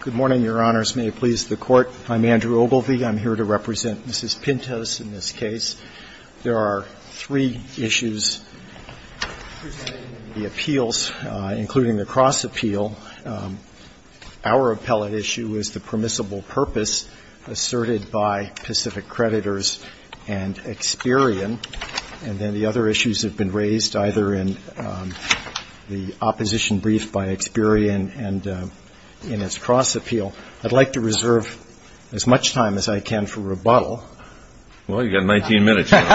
Good morning, Your Honors. May it please the Court, I'm Andrew Ogilvie. I'm here to represent Mrs. Pintos in this case. There are three issues in the appeals, including the cross appeal. Our appellate issue is the permissible purpose asserted by Pacific Creditors and Experian, and then the other issues have been raised, either in the opposition brief by Experian and in its cross appeal. I'd like to reserve as much time as I can for rebuttal. Well, you've got 19 minutes, Your Honor.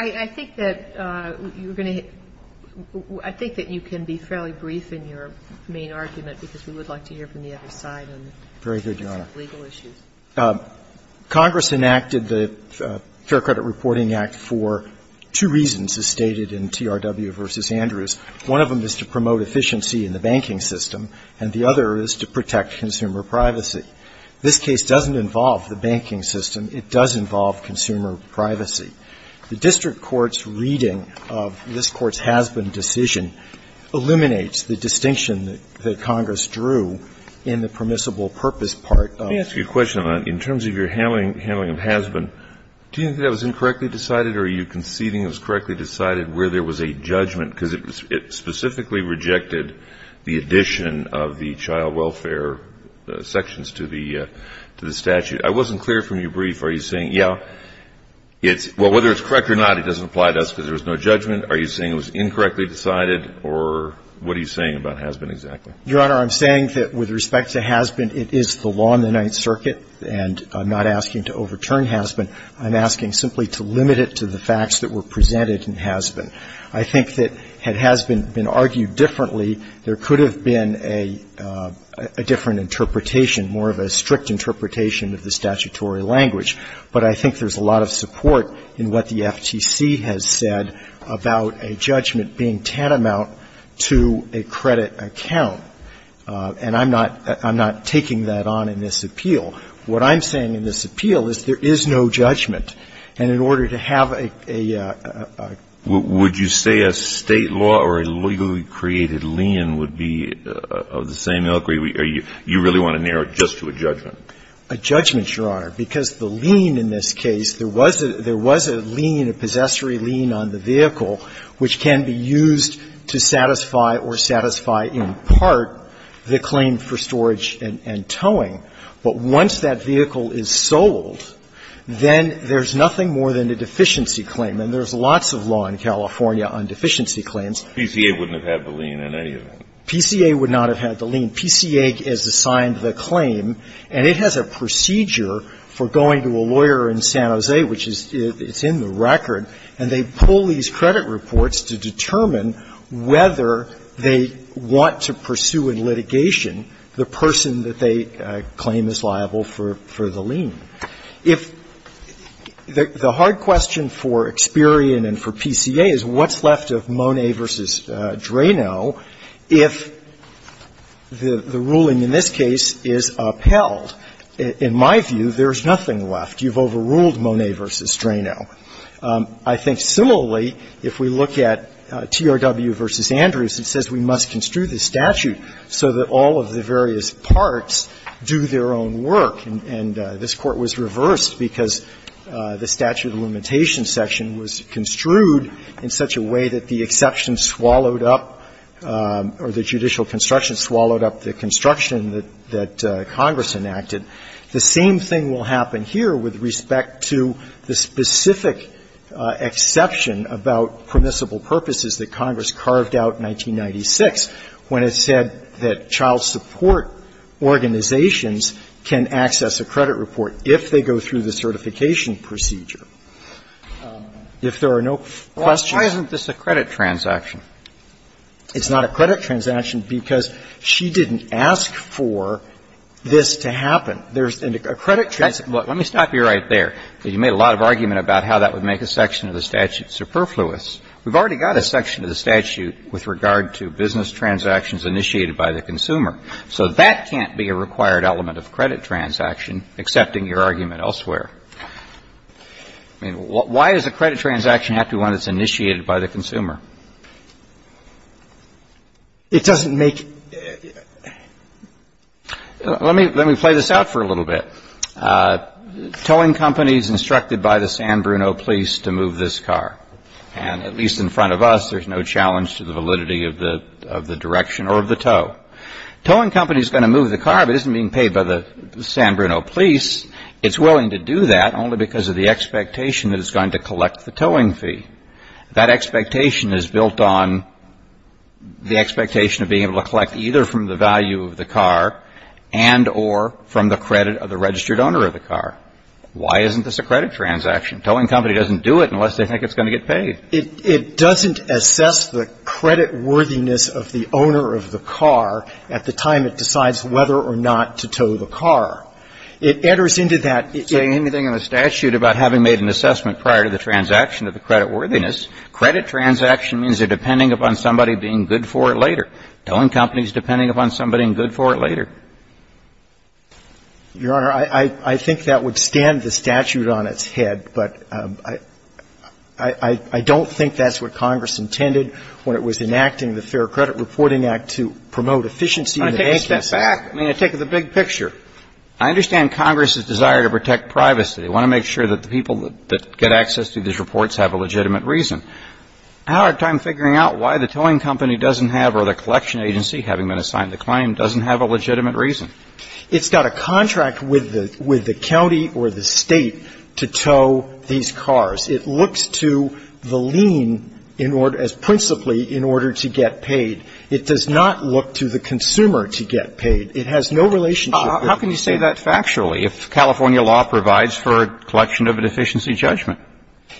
I think that you're going to hit – I think that you can be fairly brief in your main argument, because we would like to hear from the other side on the legal issues. Congress enacted the Fair Credit Reporting Act for two reasons, as stated in TRW v. Andrews. One of them is to promote efficiency in the banking system, and the other is to protect consumer privacy. This case doesn't involve the banking system. It does involve consumer privacy. The district court's reading of this Court's has-been decision eliminates the distinction that Congress drew in the permissible purpose part of the statute. In terms of your handling of has-been, do you think that was incorrectly decided, or are you conceding it was correctly decided where there was a judgment? Because it specifically rejected the addition of the child welfare sections to the statute. I wasn't clear from your brief. Are you saying, yeah, it's – well, whether it's correct or not, it doesn't apply to us because there was no judgment. Are you saying it was incorrectly decided, or what are you saying about has-been exactly? Your Honor, I'm saying that with respect to has-been, it is the law in the Ninth Circuit, and I'm not asking to overturn has-been. I'm asking simply to limit it to the facts that were presented in has-been. I think that had has-been been argued differently, there could have been a different interpretation, more of a strict interpretation of the statutory language. But I think there's a lot of support in what the FTC has said about a judgment being tantamount to a credit account. And I'm not – I'm not taking that on in this appeal. What I'm saying in this appeal is there is no judgment. And in order to have a – a – a – Would you say a State law or a legally-created lien would be of the same ilk? Are you – you really want to narrow it just to a judgment? A judgment, Your Honor, because the lien in this case, there was a – there was a lien, a possessory lien on the vehicle, which can be used to satisfy or satisfy in part the claim for storage and – and towing. But once that vehicle is sold, then there's nothing more than a deficiency claim. And there's lots of law in California on deficiency claims. PCA wouldn't have had the lien in any of them. PCA would not have had the lien. PCA has assigned the claim, and it has a procedure for going to a lawyer in San Jose, which is – it's in the record, and they pull these credit reports to determine whether they want to pursue in litigation the person that they claim is liable for – for the lien. If the hard question for Experian and for PCA is what's left of Monet v. Drano if the ruling in this case is upheld, in my view, there's nothing left. You've overruled Monet v. Drano. I think similarly, if we look at TRW v. Andrews, it says we must construe the statute so that all of the various parts do their own work. And this Court was reversed because the statute of limitation section was construed in such a way that the exception swallowed up or the judicial construction swallowed up the construction that Congress enacted. The same thing will happen here with respect to the specific exception about permissible purposes that Congress carved out in 1996 when it said that child support organizations can access a credit report if they go through the certification procedure. If there are no questions – Well, why isn't this a credit transaction? It's not a credit transaction because she didn't ask for this to happen. There's a credit – Let me stop you right there, because you made a lot of argument about how that would make a section of the statute superfluous. We've already got a section of the statute with regard to business transactions initiated by the consumer. So that can't be a required element of credit transaction, except in your argument elsewhere. I mean, why does a credit transaction have to be one that's initiated by the consumer? It doesn't make – Let me play this out for a little bit. Towing company is instructed by the San Bruno police to move this car. And at least in front of us, there's no challenge to the validity of the direction or of the tow. Towing company is going to move the car, but it isn't being paid by the San Bruno police. It's willing to do that only because of the expectation that it's going to collect the towing fee. That expectation is built on the expectation of being able to collect either from the value of the car and or from the credit of the registered owner of the car. Why isn't this a credit transaction? Towing company doesn't do it unless they think it's going to get paid. It doesn't assess the creditworthiness of the owner of the car at the time it decides whether or not to tow the car. It enters into that – Is there anything in the statute about having made an assessment prior to the transaction of the creditworthiness? Yes. Credit transaction means they're depending upon somebody being good for it later. Towing company is depending upon somebody being good for it later. Your Honor, I think that would stand the statute on its head, but I don't think that's what Congress intended when it was enacting the Fair Credit Reporting Act to promote efficiency. I take that back. I mean, I take the big picture. I understand Congress's desire to protect privacy. They want to make sure that the people that get access to these reports have a legitimate reason. I don't have time figuring out why the towing company doesn't have or the collection agency, having been assigned the claim, doesn't have a legitimate reason. It's got a contract with the county or the state to tow these cars. It looks to the lien as principally in order to get paid. It does not look to the consumer to get paid. It has no relationship. How can you say that factually? If California law provides for collection of a deficiency judgment.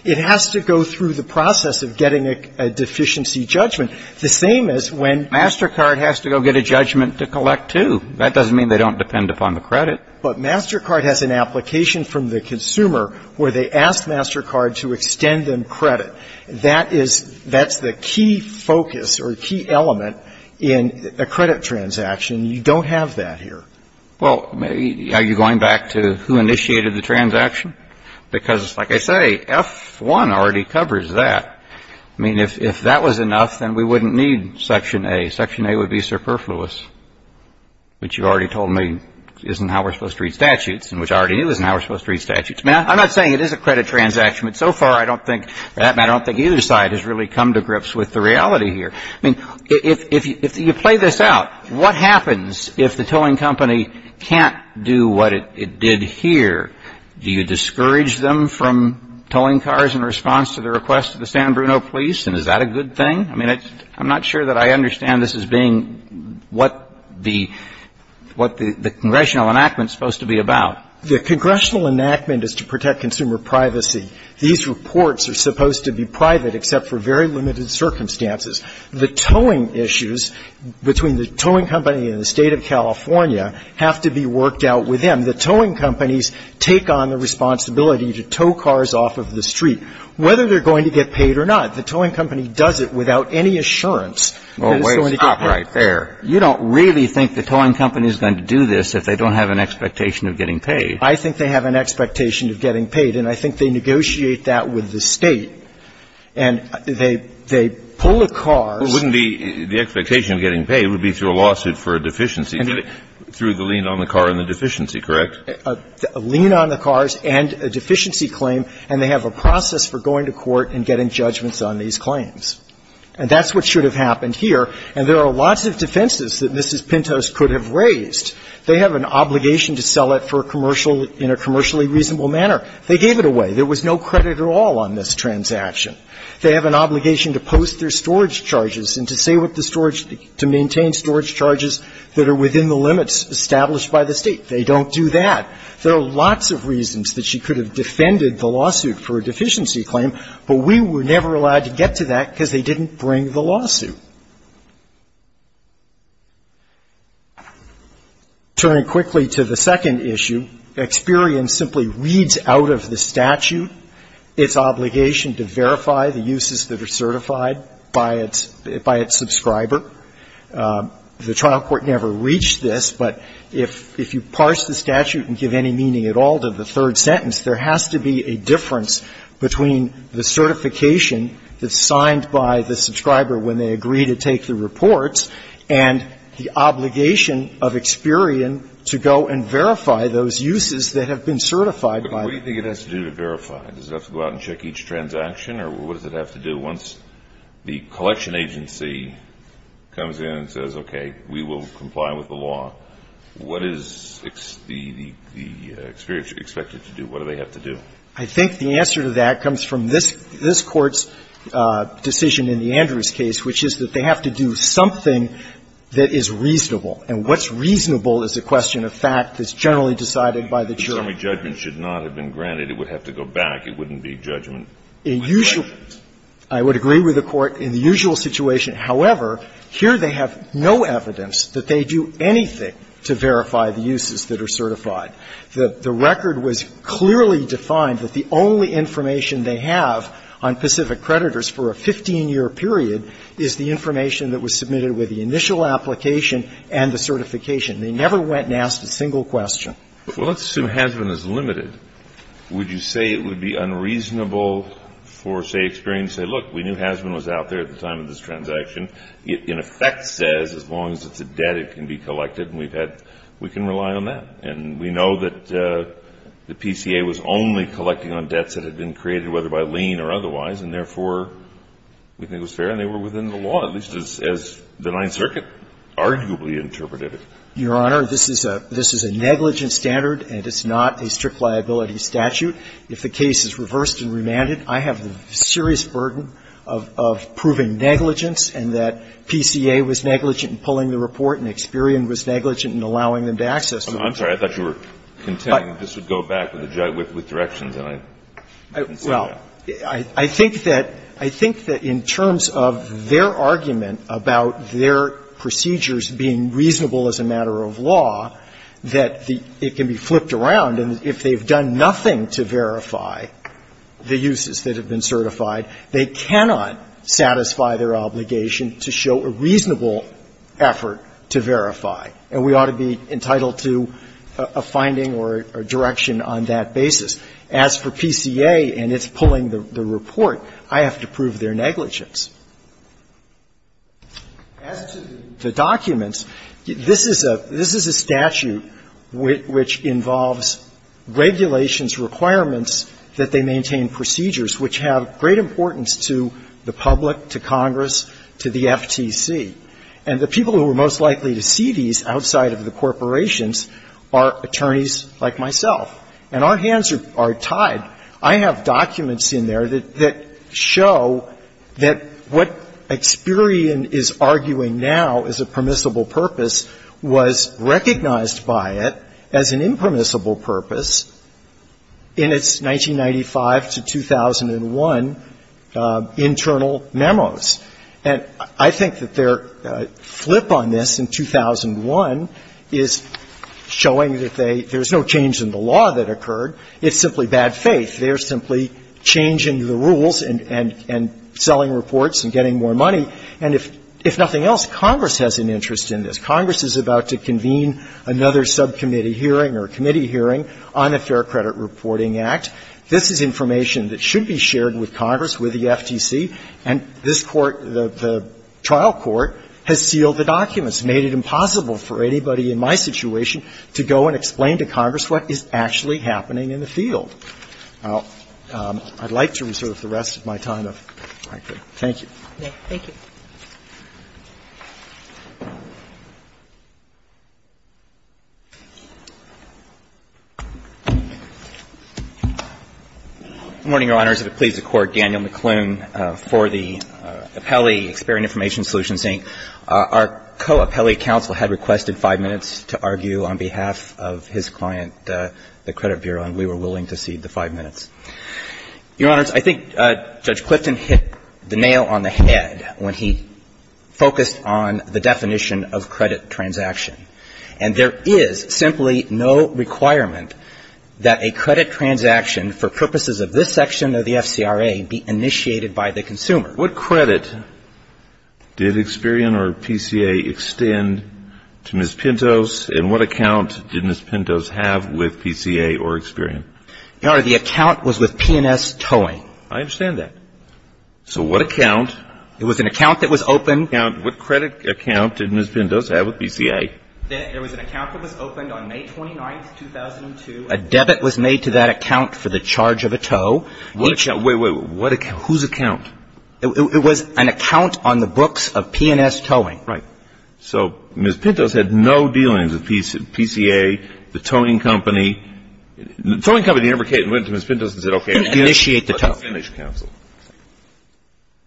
It has to go through the process of getting a deficiency judgment. The same as when MasterCard has to go get a judgment to collect, too. That doesn't mean they don't depend upon the credit. But MasterCard has an application from the consumer where they ask MasterCard to extend them credit. That is the key focus or key element in a credit transaction. You don't have that here. Well, are you going back to who initiated the transaction? Because, like I say, F1 already covers that. I mean, if that was enough, then we wouldn't need Section A. Section A would be superfluous, which you already told me isn't how we're supposed to read statutes and which I already knew isn't how we're supposed to read statutes. I'm not saying it is a credit transaction, but so far I don't think, for that matter, I don't think either side has really come to grips with the reality here. I mean, if you play this out, what happens if the towing company can't do what it did here? Do you discourage them from towing cars in response to the request of the San Bruno police, and is that a good thing? I mean, I'm not sure that I understand this as being what the congressional enactment is supposed to be about. The congressional enactment is to protect consumer privacy. These reports are supposed to be private except for very limited circumstances. The towing issues between the towing company and the State of California have to be worked out with them. The towing companies take on the responsibility to tow cars off of the street, whether they're going to get paid or not. The towing company does it without any assurance. And it's going to get paid. Well, wait. Stop right there. You don't really think the towing company is going to do this if they don't have an expectation of getting paid. I think they have an expectation of getting paid. And I think they negotiate that with the State. And they pull the cars. But wouldn't the expectation of getting paid would be through a lawsuit for a deficiency, through the lien on the car and the deficiency, correct? A lien on the cars and a deficiency claim, and they have a process for going to court and getting judgments on these claims. And that's what should have happened here. And there are lots of defenses that Mrs. Pintos could have raised. They have an obligation to sell it for a commercial, in a commercially reasonable manner. They gave it away. There was no credit at all on this transaction. They have an obligation to post their storage charges and to say what the storage to maintain storage charges that are within the limits established by the State. They don't do that. There are lots of reasons that she could have defended the lawsuit for a deficiency claim, but we were never allowed to get to that because they didn't bring the lawsuit. Turning quickly to the second issue, Experian simply reads out of the statute its obligation to verify the uses that are certified by its subscriber. The trial court never reached this, but if you parse the statute and give any meaning at all to the third sentence, there has to be a difference between the certification that's signed by the subscriber when they agree to take the reports and the obligation of Experian to go and verify those uses that have been certified by them. What do you think it has to do to verify? Does it have to go out and check each transaction, or what does it have to do? Once the collection agency comes in and says, okay, we will comply with the law, what is the Experian expected to do? What do they have to do? I think the answer to that comes from this Court's decision in the Andrews case, which is that they have to do something that is reasonable. And what's reasonable is a question of fact that's generally decided by the jury. Alito, I'm sorry. The jury judgment should not have been granted. It would have to go back. It wouldn't be judgment. I would agree with the Court in the usual situation. However, here they have no evidence that they do anything to verify the uses that are certified. The record was clearly defined that the only information they have on Pacific creditors for a 15-year period is the information that was submitted with the initial application and the certification. They never went and asked a single question. Well, let's assume Hazbin is limited. Would you say it would be unreasonable for, say, Experian to say, look, we knew Hazbin was out there at the time of this transaction. It in effect says as long as it's a debt, it can be collected, and we've had we can rely on that. And we know that the PCA was only collecting on debts that had been created whether by lien or otherwise, and therefore we think it was fair and they were within the law, at least as the Ninth Circuit arguably interpreted it. Your Honor, this is a negligent standard and it's not a strict liability statute. If the case is reversed and remanded, I have the serious burden of proving negligence and that PCA was negligent in pulling the report and Experian was negligent in allowing them to access it. I'm sorry. I thought you were contending this would go back with directions. Well, I think that in terms of their argument about their procedures being reasonable as a matter of law, that it can be flipped around. And if they've done nothing to verify the uses that have been certified, they cannot satisfy their obligation to show a reasonable effort to verify. And we ought to be entitled to a finding or a direction on that basis. As for PCA and its pulling the report, I have to prove their negligence. As to the documents, this is a statute which involves regulations, requirements that they maintain procedures, which have great importance to the public, to Congress, to the FTC. And the people who are most likely to see these outside of the corporations are attorneys like myself. And our hands are tied. I have documents in there that show that what Experian is arguing now is a permissible purpose was recognized by it as an impermissible purpose in its 1995 to 2001 internal memos. And I think that their flip on this in 2001 is showing that there's no change in the law that occurred. It's simply bad faith. They're simply changing the rules and selling reports and getting more money. And if nothing else, Congress has an interest in this. Congress is about to convene another subcommittee hearing or committee hearing on the Fair Credit Reporting Act. This is information that should be shared with Congress, with the FTC, and this Court, the trial court, has sealed the documents, made it impossible for anybody in my situation to go and explain to Congress what is actually happening in the field. Now, I'd like to reserve the rest of my time if I could. Thank you. Thank you. Good morning, Your Honors. If it please the Court, Daniel McClune for the appellee, Experian Information Solutions, Inc. Our co-appellee counsel had requested five minutes to argue on behalf of his client, the Credit Bureau, and we were willing to cede the five minutes. Your Honors, I think Judge Clifton hit the nail on the head when he focused on the definition of credit transaction, and there is simply no requirement that a credit transaction for purposes of this section of the FCRA be initiated by the consumer. Your Honor, what credit did Experian or PCA extend to Ms. Pintos, and what account did Ms. Pintos have with PCA or Experian? Your Honor, the account was with P&S Towing. I understand that. So what account? It was an account that was opened. What credit account did Ms. Pintos have with PCA? There was an account that was opened on May 29, 2002. A debit was made to that account for the charge of a tow. Wait, wait, wait. Whose account? It was an account on the books of P&S Towing. Right. So Ms. Pintos had no dealings with PCA, the towing company. The towing company never came and went to Ms. Pintos and said, okay, let's finish counsel.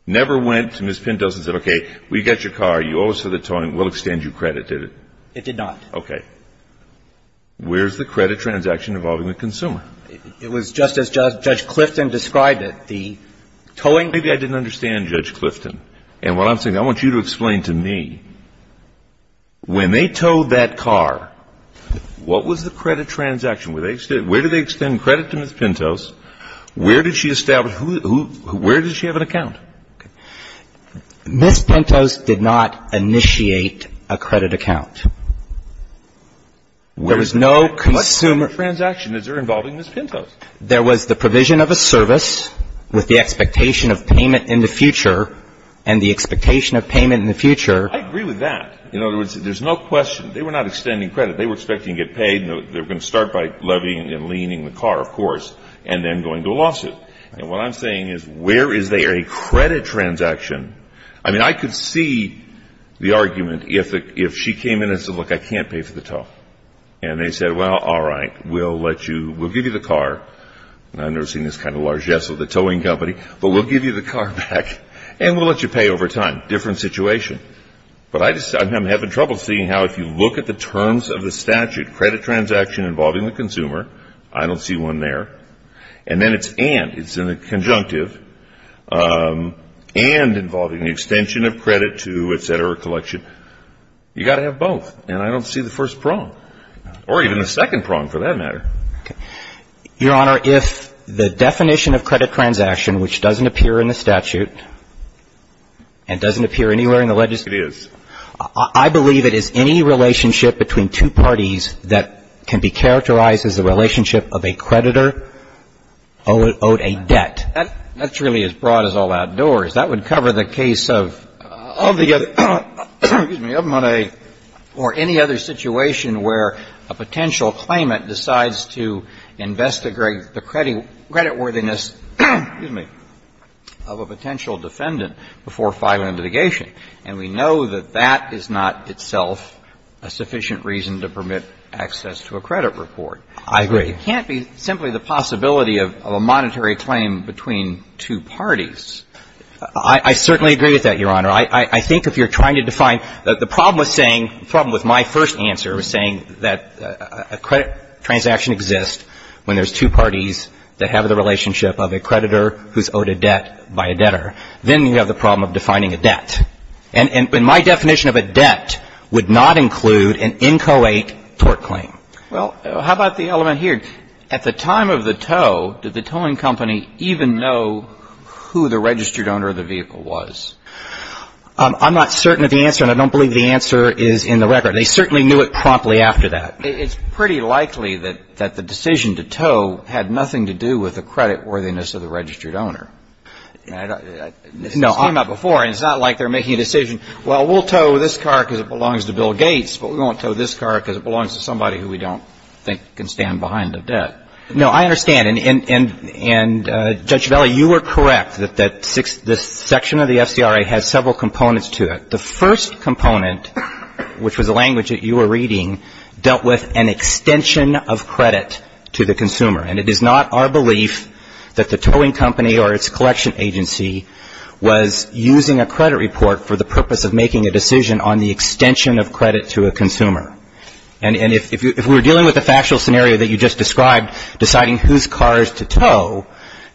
Never went to Ms. Pintos and said, okay, we got your car, you owe us for the towing, we'll extend you credit, did it? It did not. Okay. Where's the credit transaction involving the consumer? It was just as Judge Clifton described it. Maybe I didn't understand Judge Clifton. And what I'm saying, I want you to explain to me, when they towed that car, what was the credit transaction? Where did they extend credit to Ms. Pintos? Where did she establish? Where did she have an account? Ms. Pintos did not initiate a credit account. There was no consumer transaction. Is there involving Ms. Pintos? There was the provision of a service with the expectation of payment in the future and the expectation of payment in the future. I agree with that. In other words, there's no question. They were not extending credit. They were expecting to get paid. They were going to start by levying and leaning the car, of course, and then going to a lawsuit. And what I'm saying is, where is there a credit transaction? I mean, I could see the argument if she came in and said, look, I can't pay for the tow. And they said, well, all right, we'll give you the car. I've never seen this kind of largesse with a towing company. But we'll give you the car back and we'll let you pay over time. Different situation. But I'm having trouble seeing how, if you look at the terms of the statute, credit transaction involving the consumer, I don't see one there. And then it's and. It's in the conjunctive. And involving the extension of credit to, et cetera, a collection. You've got to have both. And I don't see the first prong. Or even the second prong, for that matter. Your Honor, if the definition of credit transaction, which doesn't appear in the statute and doesn't appear anywhere in the legislature. It is. I believe it is any relationship between two parties that can be characterized as a relationship of a creditor owed a debt. That's really as broad as all outdoors. That would cover the case of all the other. Excuse me. Of money or any other situation where a potential claimant decides to investigate the creditworthiness of a potential defendant before filing a litigation. And we know that that is not itself a sufficient reason to permit access to a credit report. I agree. It can't be simply the possibility of a monetary claim between two parties. I certainly agree with that, Your Honor. I think if you're trying to define, the problem with saying, the problem with my first answer was saying that a credit transaction exists when there's two parties that have the relationship of a creditor who's owed a debt by a debtor. Then you have the problem of defining a debt. And my definition of a debt would not include an inchoate tort claim. Well, how about the element here? At the time of the tow, did the towing company even know who the registered owner of the vehicle was? I'm not certain of the answer. And I don't believe the answer is in the record. They certainly knew it promptly after that. It's pretty likely that the decision to tow had nothing to do with the creditworthiness of the registered owner. No. It's not like they're making a decision, well, we'll tow this car because it belongs to Bill Gates, but we won't tow this car because it belongs to somebody who we don't think can stand behind a debt. No, I understand. And Judge Valle, you were correct that this section of the FCRA has several components to it. The first component, which was a language that you were reading, dealt with an extension of credit to the consumer. And it is not our belief that the towing company or its collection agency was using a credit report for the purpose of making a decision on the extension of credit to a consumer. And if we were dealing with a factual scenario that you just described, deciding whose car is to tow,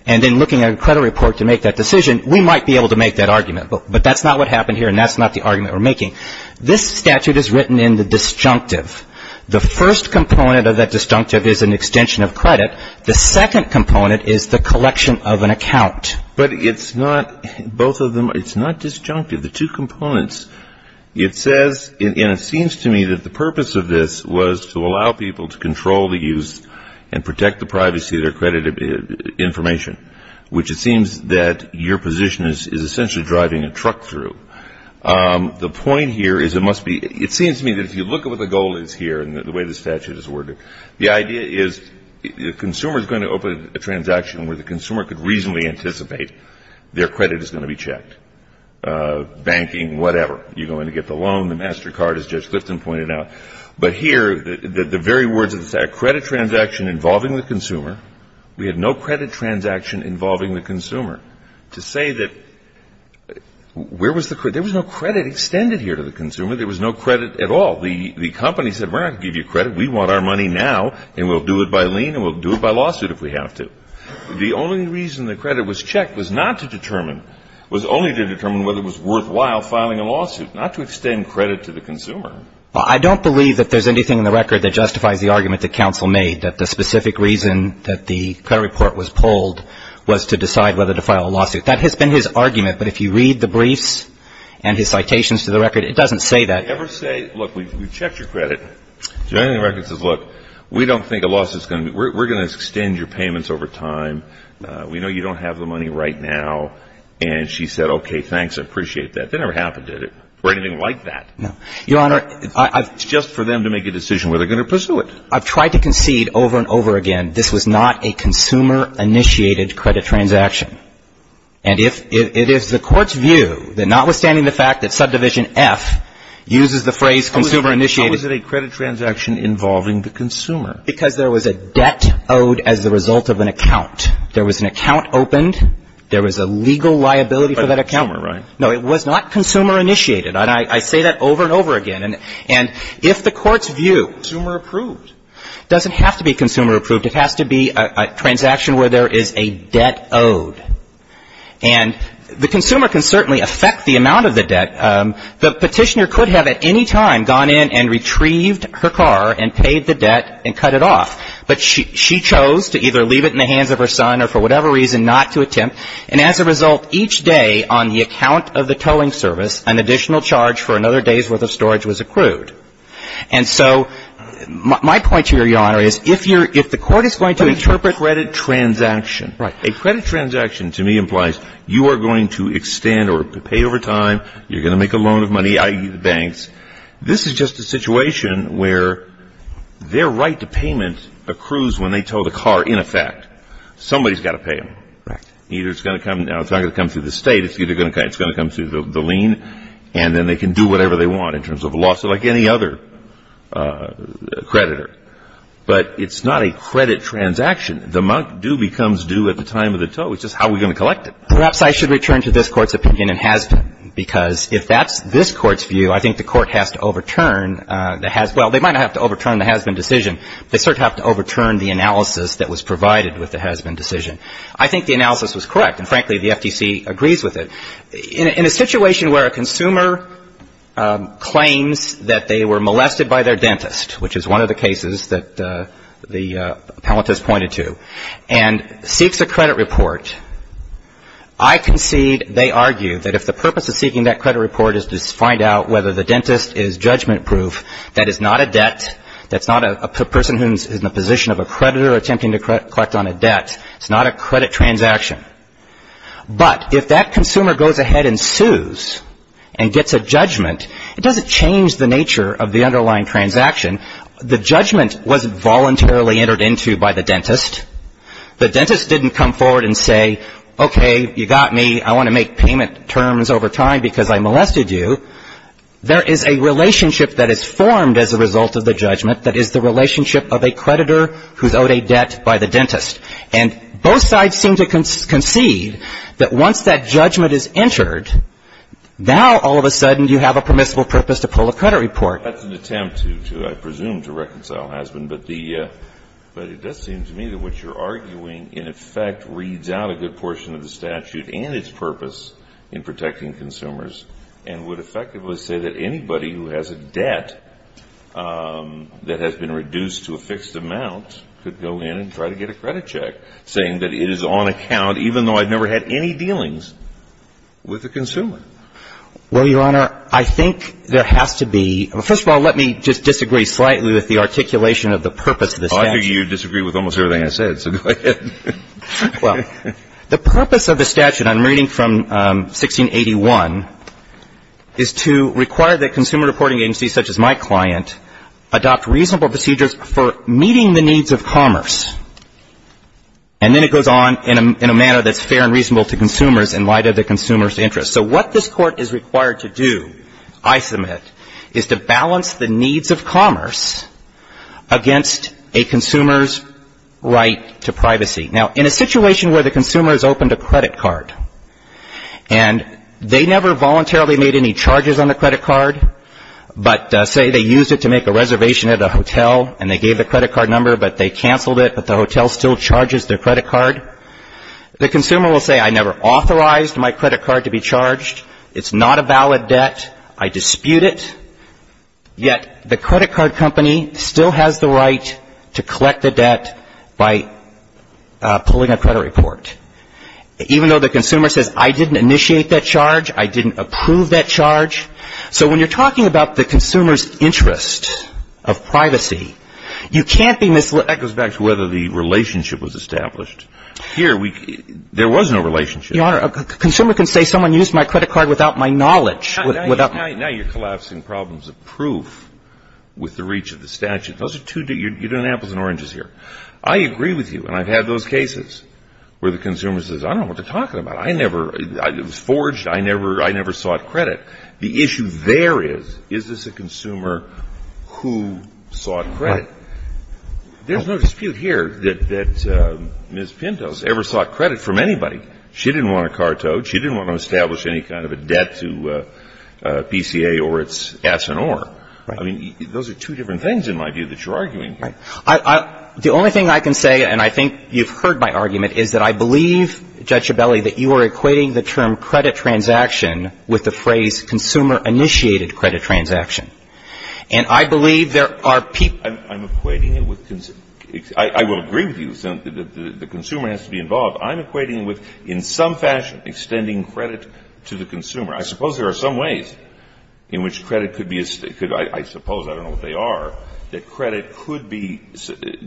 and then looking at a credit report to make that decision, we might be able to make that argument. But that's not what happened here, and that's not the argument we're making. This statute is written in the disjunctive. The first component of that disjunctive is an extension of credit. The second component is the collection of an account. But it's not, both of them, it's not disjunctive. The two components, it says, and it seems to me that the purpose of this was to allow people to control the use and protect the privacy of their credit information, which it seems that your position is essentially driving a truck through. The point here is it must be, it seems to me that if you look at what the goal is here and the way the statute is worded, the idea is the consumer is going to open a transaction where the consumer could reasonably anticipate their credit is going to be checked. Banking, whatever. You're going to get the loan, the MasterCard, as Judge Clifton pointed out. But here, the very words of the statute, credit transaction involving the consumer. We had no credit transaction involving the consumer. To say that, where was the credit? There was no credit extended here to the consumer. There was no credit at all. The company said, we're not going to give you credit. We want our money now, and we'll do it by lien, and we'll do it by lawsuit if we have to. The only reason the credit was checked was not to determine, was only to determine whether it was worthwhile filing a lawsuit, not to extend credit to the consumer. Well, I don't believe that there's anything in the record that justifies the argument that counsel made, that the specific reason that the credit report was pulled was to decide whether to file a lawsuit. That has been his argument, but if you read the briefs and his citations to the record, it doesn't say that. Did it ever say, look, we've checked your credit? Do you have anything in the record that says, look, we don't think a lawsuit is going to be, we're going to extend your payments over time, we know you don't have the money right now, and she said, okay, thanks, I appreciate that. That never happened, did it? Or anything like that. No. Your Honor, I've It's just for them to make a decision whether they're going to pursue it. I've tried to concede over and over again, this was not a consumer-initiated credit transaction. And if it is the Court's view that notwithstanding the fact that subdivision F uses the phrase consumer-initiated Why was it a credit transaction involving the consumer? Because there was a debt owed as a result of an account. There was an account opened. There was a legal liability for that account. But a consumer, right? No, it was not consumer-initiated. And I say that over and over again. And if the Court's view Consumer-approved. Doesn't have to be consumer-approved. It has to be a transaction where there is a debt owed. And the consumer can certainly affect the amount of the debt. The Petitioner could have at any time gone in and retrieved her car and paid the debt and cut it off. But she chose to either leave it in the hands of her son or for whatever reason not to attempt. And as a result, each day on the account of the towing service, an additional charge for another day's worth of storage was accrued. And so my point to you, Your Honor, is if the Court is going to interpret A credit transaction. Right. A credit transaction to me implies you are going to extend or pay over time, you're going to make a loan of money, i.e., the banks. This is just a situation where their right to payment accrues when they tow the car in effect. Somebody's got to pay them. Right. Either it's going to come, it's not going to come through the State, it's either going to come through the lien, and then they can do whatever they want in terms of a lawsuit like any other creditor. But it's not a credit transaction. The amount due becomes due at the time of the tow. It's just how are we going to collect it. Perhaps I should return to this Court's opinion in Hasbun, because if that's this Court's view, I think the Court has to overturn the Hasbun. Well, they might not have to overturn the Hasbun decision, but they certainly have to overturn the analysis that was provided with the Hasbun decision. I think the analysis was correct, and frankly, the FTC agrees with it. In a situation where a consumer claims that they were molested by their dentist, which is one of the cases that the appellate has pointed to, and seeks a credit report, I concede, they argue, that if the purpose of seeking that credit report is to find out whether the dentist is judgment-proof, that is not a debt, that's not a person who is in a position of a creditor attempting to collect on a debt, it's not a credit transaction. But if that consumer goes ahead and sues and gets a judgment, it doesn't change the nature of the underlying transaction. The judgment wasn't voluntarily entered into by the dentist. The dentist didn't come forward and say, okay, you got me, I want to make payment terms over time because I molested you. There is a relationship that is formed as a result of the judgment that is the relationship of a creditor who is owed a debt by the dentist. And both sides seem to concede that once that judgment is entered, now all of a sudden you have a permissible purpose to pull a credit report. That's an attempt to, I presume, to reconcile Hasbun. But it does seem to me that what you're arguing, in effect, reads out a good portion of the statute and its purpose in protecting consumers, and would effectively say that anybody who has a debt that has been reduced to a fixed amount could go in and try to get a credit check, saying that it is on account, even though I've never had any dealings with a consumer. Well, Your Honor, I think there has to be – first of all, let me just disagree slightly with the articulation of the purpose of the statute. I think you disagree with almost everything I said, so go ahead. Well, the purpose of the statute, I'm reading from 1681, is to require that consumer reporting agencies such as my client adopt reasonable procedures for meeting the needs of commerce. And then it goes on in a manner that's fair and reasonable to consumers in light of the consumer's interest. So what this Court is required to do, I submit, is to balance the needs of commerce against a consumer's right to privacy. Now, in a situation where the consumer has opened a credit card, and they never voluntarily made any charges on the credit card, but say they used it to make a reservation at a hotel, and they gave the credit card number, but they canceled it, but the hotel still charges their credit card. The consumer will say, I never authorized my credit card to be charged. It's not a valid debt. I dispute it. Yet the credit card company still has the right to collect the debt by pulling a credit report. Even though the consumer says, I didn't initiate that charge, I didn't approve that charge. So when you're talking about the consumer's interest of privacy, you can't be misleading. In fact, whether the relationship was established, here, there was no relationship. Your Honor, a consumer can say someone used my credit card without my knowledge. Now you're collapsing problems of proof with the reach of the statute. You're doing apples and oranges here. I agree with you, and I've had those cases where the consumer says, I don't know what they're talking about. It was forged. I never sought credit. The issue there is, is this a consumer who sought credit? There's no dispute here that Ms. Pintos ever sought credit from anybody. She didn't want a car towed. She didn't want to establish any kind of a debt to PCA or its S&R. I mean, those are two different things, in my view, that you're arguing here. Right. The only thing I can say, and I think you've heard my argument, is that I believe, Judge Shabeli, that you are equating the term credit transaction with the phrase consumer-initiated credit transaction. And I believe there are people. I'm equating it with the consumer. I will agree with you that the consumer has to be involved. I'm equating it with, in some fashion, extending credit to the consumer. I suppose there are some ways in which credit could be, I suppose, I don't know what they are, that credit could be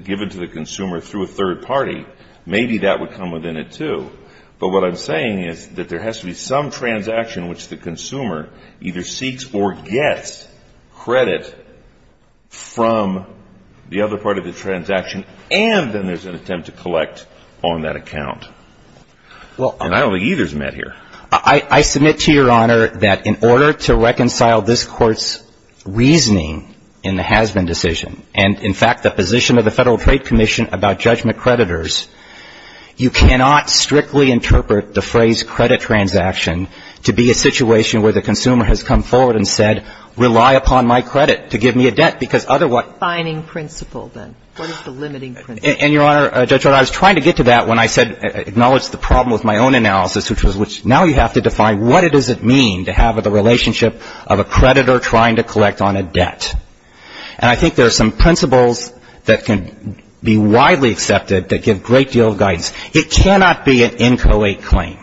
given to the consumer through a third party. Maybe that would come within it, too. But what I'm saying is that there has to be some transaction which the consumer either seeks or gets credit from the other part of the transaction and then there's an attempt to collect on that account. And I don't think either is met here. I submit to Your Honor that in order to reconcile this Court's reasoning in the Hasbin decision and, in fact, the position of the Federal Trade Commission about judgment creditors, you cannot strictly interpret the phrase credit transaction to be a situation where the consumer has come forward and said, rely upon my credit to give me a debt because otherwise. Defining principle, then. What is the limiting principle? And, Your Honor, Judge, I was trying to get to that when I said acknowledge the problem with my own analysis, which was now you have to define what does it mean to have the relationship of a creditor trying to collect on a debt. And I think there are some principles that can be widely accepted that give a great deal of guidance. It cannot be an inchoate claim.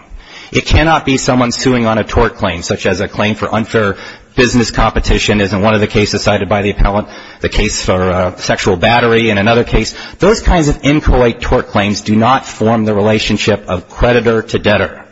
It cannot be someone suing on a tort claim, such as a claim for unfair business competition as in one of the cases cited by the appellant, the case for sexual battery, and another case. Those kinds of inchoate tort claims do not form the relationship of creditor to debtor.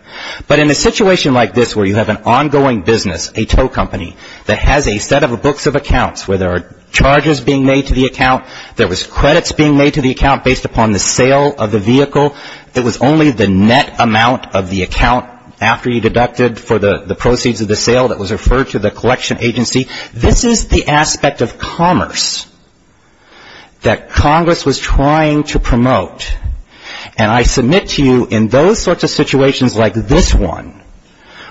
But in a situation like this where you have an ongoing business, a tow company, that has a set of books of accounts where there are charges being made to the account, there was credits being made to the account based upon the sale of the vehicle, it was only the net amount of the account after you deducted for the proceeds of the sale that was referred to the collection agency, this is the aspect of commerce that Congress was trying to promote. And I submit to you in those sorts of situations like this one,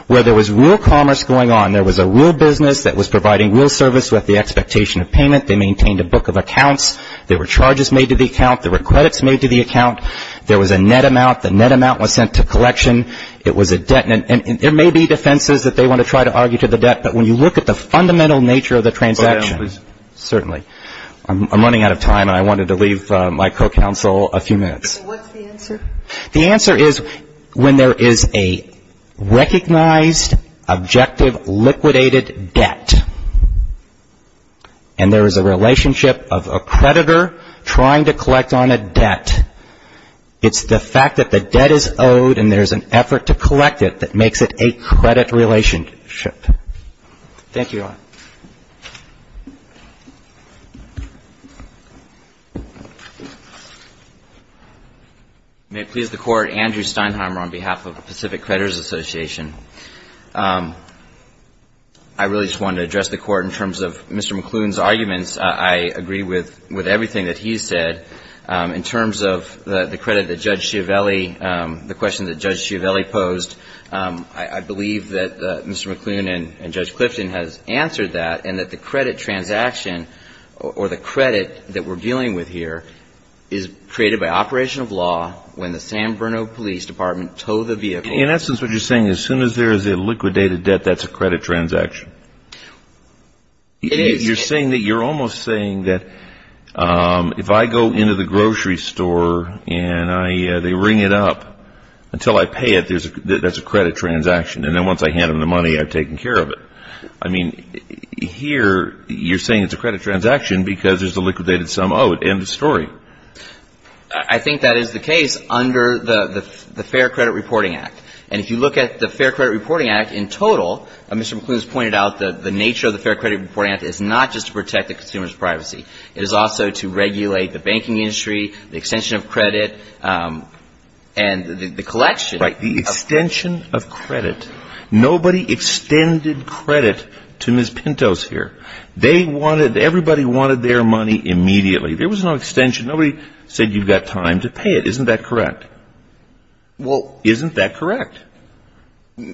where there was real commerce going on, there was a real business that was providing real service with the expectation of payment, they maintained a book of accounts, there were charges made to the account, there were credits made to the account, there was a net amount, the net amount was sent to collection, it was a debt. And there may be defenses that they want to try to argue to the debt, but when you look at the fundamental nature of the transaction, certainly. I'm running out of time, and I wanted to leave my co-counsel a few minutes. What's the answer? The answer is when there is a recognized, objective, liquidated debt, and there is a effort to collect on a debt, it's the fact that the debt is owed and there is an effort to collect it that makes it a credit relationship. Thank you, Your Honor. May it please the Court. Andrew Steinheimer on behalf of the Pacific Creditors Association. I really just wanted to address the Court in terms of Mr. McLuhan's arguments. I agree with everything that he said. In terms of the credit that Judge Schiavelli, the question that Judge Schiavelli posed, I believe that Mr. McLuhan and Judge Clifton has answered that, and that the credit transaction or the credit that we're dealing with here is created by operation of law when the San Bernardo Police Department towed the vehicle. In essence, what you're saying, as soon as there is a liquidated debt, that's a credit transaction. You're saying that you're almost saying that if I go into the grocery store and they ring it up, until I pay it, that's a credit transaction. And then once I hand them the money, I've taken care of it. I mean, here you're saying it's a credit transaction because there's a liquidated sum owed. End of story. I think that is the case under the Fair Credit Reporting Act. And if you look at the Fair Credit Reporting Act in total, Mr. McLuhan has pointed out that the nature of the Fair Credit Reporting Act is not just to protect the consumer's privacy. It is also to regulate the banking industry, the extension of credit, and the collection. Right. The extension of credit. Nobody extended credit to Ms. Pintos here. They wanted, everybody wanted their money immediately. There was no extension. Nobody said you've got time to pay it. Isn't that correct?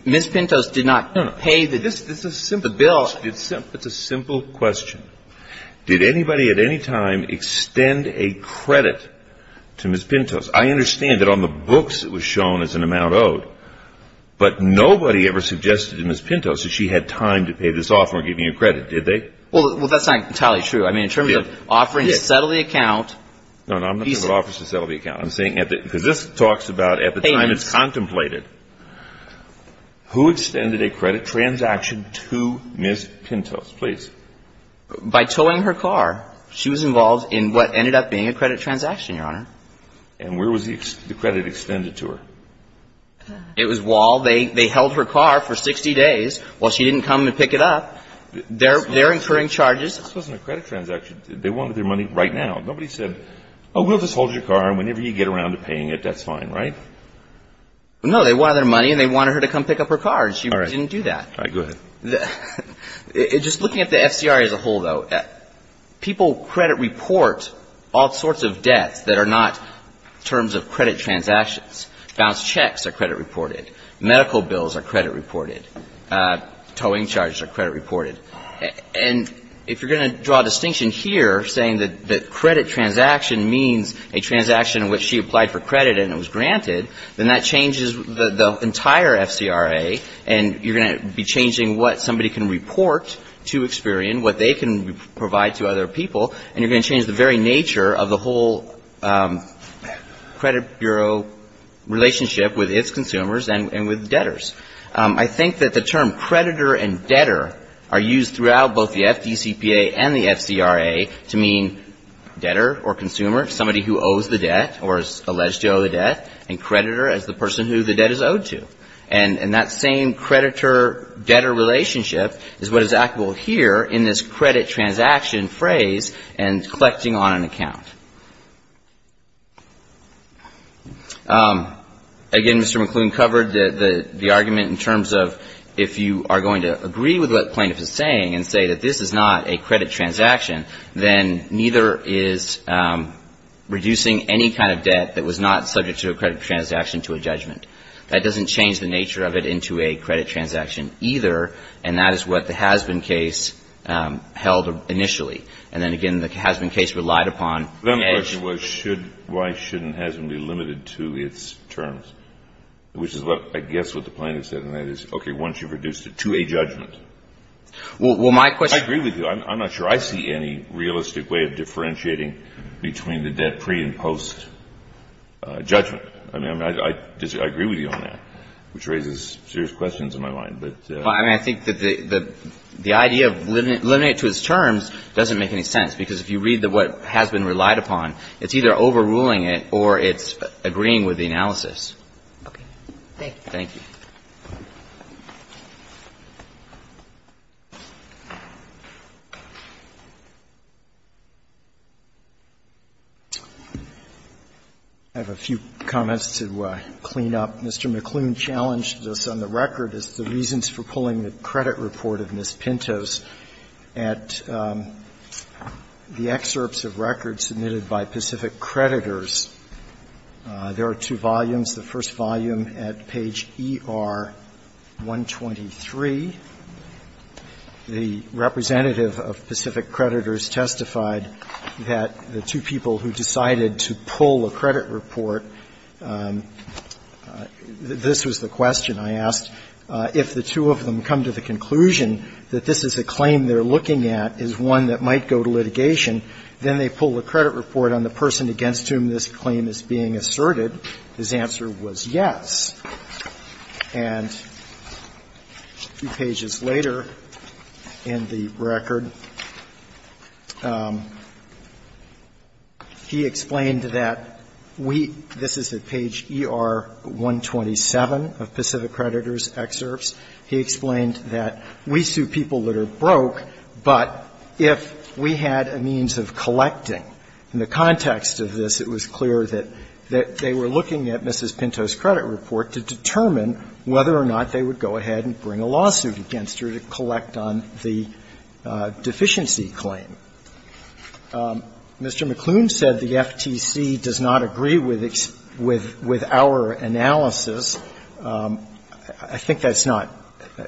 Ms. Pintos did not pay the bill. It's a simple question. Did anybody at any time extend a credit to Ms. Pintos? I understand that on the books it was shown as an amount owed, but nobody ever suggested to Ms. Pintos that she had time to pay this offer and give me a credit, did they? Well, that's not entirely true. I mean, in terms of offering to settle the account. No, I'm not talking about offering to settle the account. I'm saying because this talks about at the time it's contemplated. Who extended a credit transaction to Ms. Pintos, please? By towing her car. She was involved in what ended up being a credit transaction, Your Honor. And where was the credit extended to her? It was walled. They held her car for 60 days while she didn't come and pick it up. They're incurring charges. This wasn't a credit transaction. They wanted their money right now. Nobody said, oh, we'll just hold your car and whenever you get around to paying it, that's fine, right? No, they wanted their money and they wanted her to come pick up her car and she didn't do that. All right. Go ahead. Just looking at the FCR as a whole, though, people credit report all sorts of debts that are not terms of credit transactions. Bounced checks are credit reported. Medical bills are credit reported. Towing charges are credit reported. And if you're going to draw a distinction here saying that credit transaction means a transaction in which she applied for credit and it was granted, then that changes the entire FCRA and you're going to be changing what somebody can report to Experian, what they can provide to other people, and you're going to change the very nature of the whole credit bureau relationship with its consumers and with debtors. I think that the term creditor and debtor are used throughout both the FDCPA and the FCRA to mean debtor or consumer, somebody who owes the debt or is alleged to owe the debt, and creditor as the person who the debt is owed to. And that same creditor-debtor relationship is what is applicable here in this credit transaction phrase and collecting on an account. Again, Mr. McClune covered the argument in terms of if you are going to agree with what the plaintiff is saying and say that this is not a credit transaction, then neither is reducing any kind of debt that was not subject to a credit transaction to a judgment. That doesn't change the nature of it into a credit transaction either, and that is what the Hasbin case held initially. And then, again, the Hasbin case relied upon the edge. The other question was why shouldn't Hasbin be limited to its terms, which is what I guess what the plaintiff said, and that is, okay, once you've reduced it to a judgment. Well, my question — I agree with you. I'm not sure I see any realistic way of differentiating between the debt pre- and post-judgment. I mean, I agree with you on that, which raises serious questions in my mind. I mean, I think that the idea of limiting it to its terms doesn't make any sense, because if you read the what Hasbin relied upon, it's either overruling it or it's agreeing with the analysis. Okay. Thank you. Thank you. I have a few comments to clean up. Mr. McClune challenged this on the record as the reasons for pulling the credit report of Ms. Pintos at the excerpts of records submitted by Pacific Creditors. There are two volumes, the first volume at page ER-123. The representative of Pacific Creditors testified that the two people who decided to pull a credit report, this was the question I asked, if the two of them come to the conclusion that this is a claim they're looking at is one that might go to litigation, then they pull a credit report on the person against whom this claim is being asserted. His answer was yes. And a few pages later in the record, he explained that we – this is at page ER-127 of Pacific Creditors' excerpts. He explained that we sue people that are broke, but if we had a means of collecting In the context of this, it was clear that they were looking at Mrs. Pintos' credit report to determine whether or not they would go ahead and bring a lawsuit against her to collect on the deficiency claim. Mr. McClune said the FTC does not agree with our analysis. I think that's not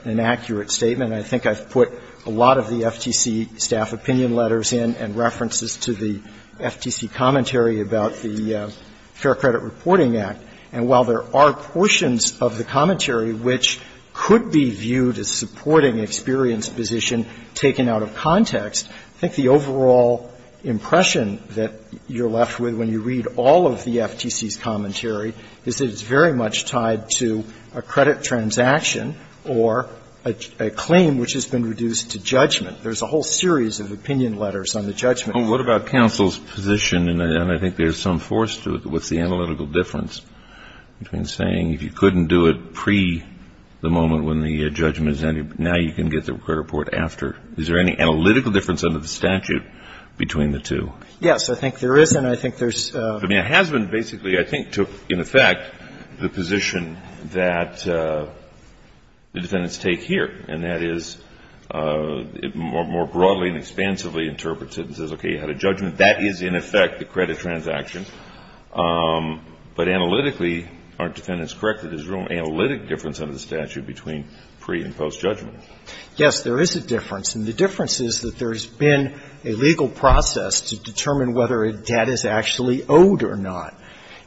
an accurate statement. And I think I've put a lot of the FTC staff opinion letters in and references to the FTC commentary about the Fair Credit Reporting Act. And while there are portions of the commentary which could be viewed as supporting experience position taken out of context, I think the overall impression that you're to judgment. There's a whole series of opinion letters on the judgment. And what about counsel's position? And I think there's some force to it. What's the analytical difference between saying if you couldn't do it pre the moment when the judgment is ended, now you can get the credit report after? Is there any analytical difference under the statute between the two? Yes, I think there is. And I think there's – I mean, it has been basically, I think, took, in effect, the position that the defendants take here, and that is it more broadly and expansively interprets it and says, okay, you had a judgment. That is, in effect, the credit transaction. But analytically, aren't defendants corrected? Is there an analytic difference under the statute between pre and post judgment? Yes, there is a difference. And the difference is that there has been a legal process to determine whether a debt is actually owed or not.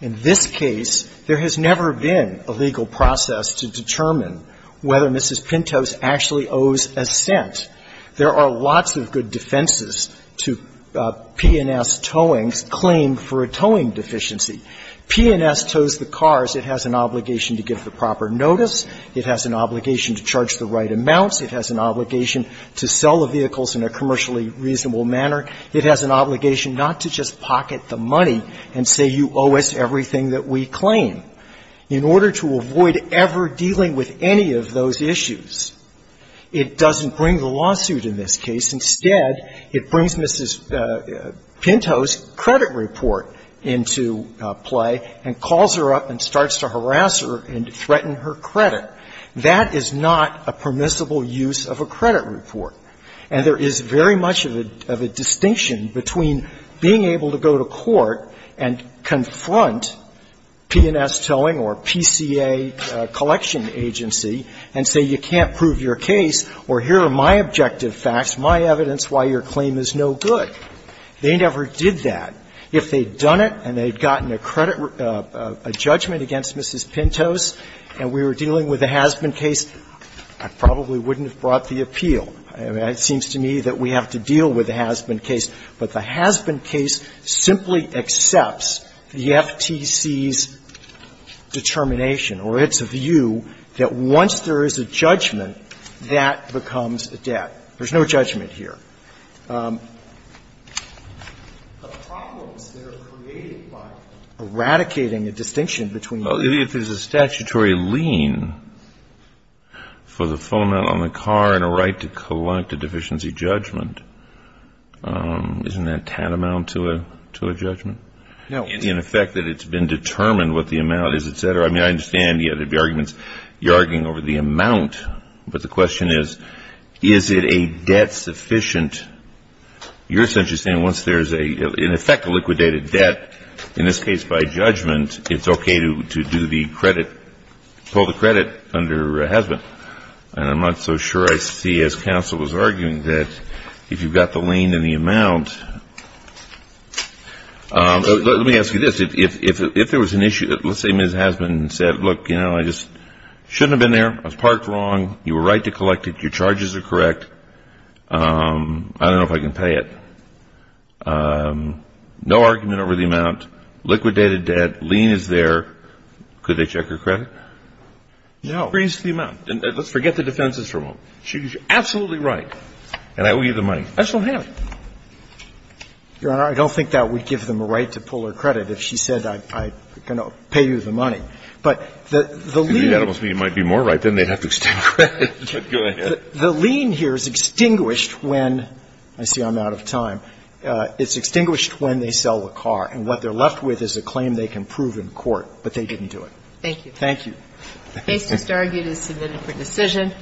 In this case, there has never been a legal process to determine whether Mrs. Pintos actually owes a cent. There are lots of good defenses to P&S Towing's claim for a towing deficiency. P&S tows the cars. It has an obligation to give the proper notice. It has an obligation to charge the right amounts. It has an obligation to sell the vehicles in a commercially reasonable manner. It has an obligation not to just pocket the money and say, you owe us everything that we claim, in order to avoid ever dealing with any of those issues. It doesn't bring the lawsuit in this case. Instead, it brings Mrs. Pintos' credit report into play and calls her up and starts to harass her and threaten her credit. That is not a permissible use of a credit report. And there is very much of a distinction between being able to go to court and confront P&S Towing or PCA collection agency and say, you can't prove your case, or here are my objective facts, my evidence why your claim is no good. They never did that. If they'd done it and they'd gotten a credit or a judgment against Mrs. Pintos and we were dealing with a has-been case, I probably wouldn't have brought the appeal. I mean, it seems to me that we have to deal with a has-been case. But the has-been case simply accepts the FTC's determination or its view that once there is a judgment, that becomes a debt. There's no judgment here. The problems that are created by eradicating a distinction between the two. A statutory lien for the full amount on the car and a right to collect a deficiency judgment, isn't that tantamount to a judgment? No. In effect, that it's been determined what the amount is, et cetera. I mean, I understand the arguments, you're arguing over the amount, but the question is, is it a debt sufficient? You're essentially saying once there's a, in effect, a liquidated debt, in this case by judgment, it's okay to do the credit, pull the credit under a has-been. And I'm not so sure I see as counsel was arguing that if you've got the lien and the amount, let me ask you this, if there was an issue, let's say Ms. Has-been said, look, you know, I just shouldn't have been there, I was parked wrong, you were right to collect it, your charges are correct, I don't know if I can pay it. No argument over the amount, liquidated debt, lien is there, could they check her credit? No. She agrees to the amount. Let's forget the defenses for a moment. She's absolutely right. And I will give the money. I still have it. Your Honor, I don't think that would give them a right to pull her credit if she said I'm going to pay you the money. But the lien here is extinguished when, I see I'm out of time. It's extinguished when they sell the car. And what they're left with is a claim they can prove in court. But they didn't do it. Thank you. Thank you. The case just argued is submitted for decision.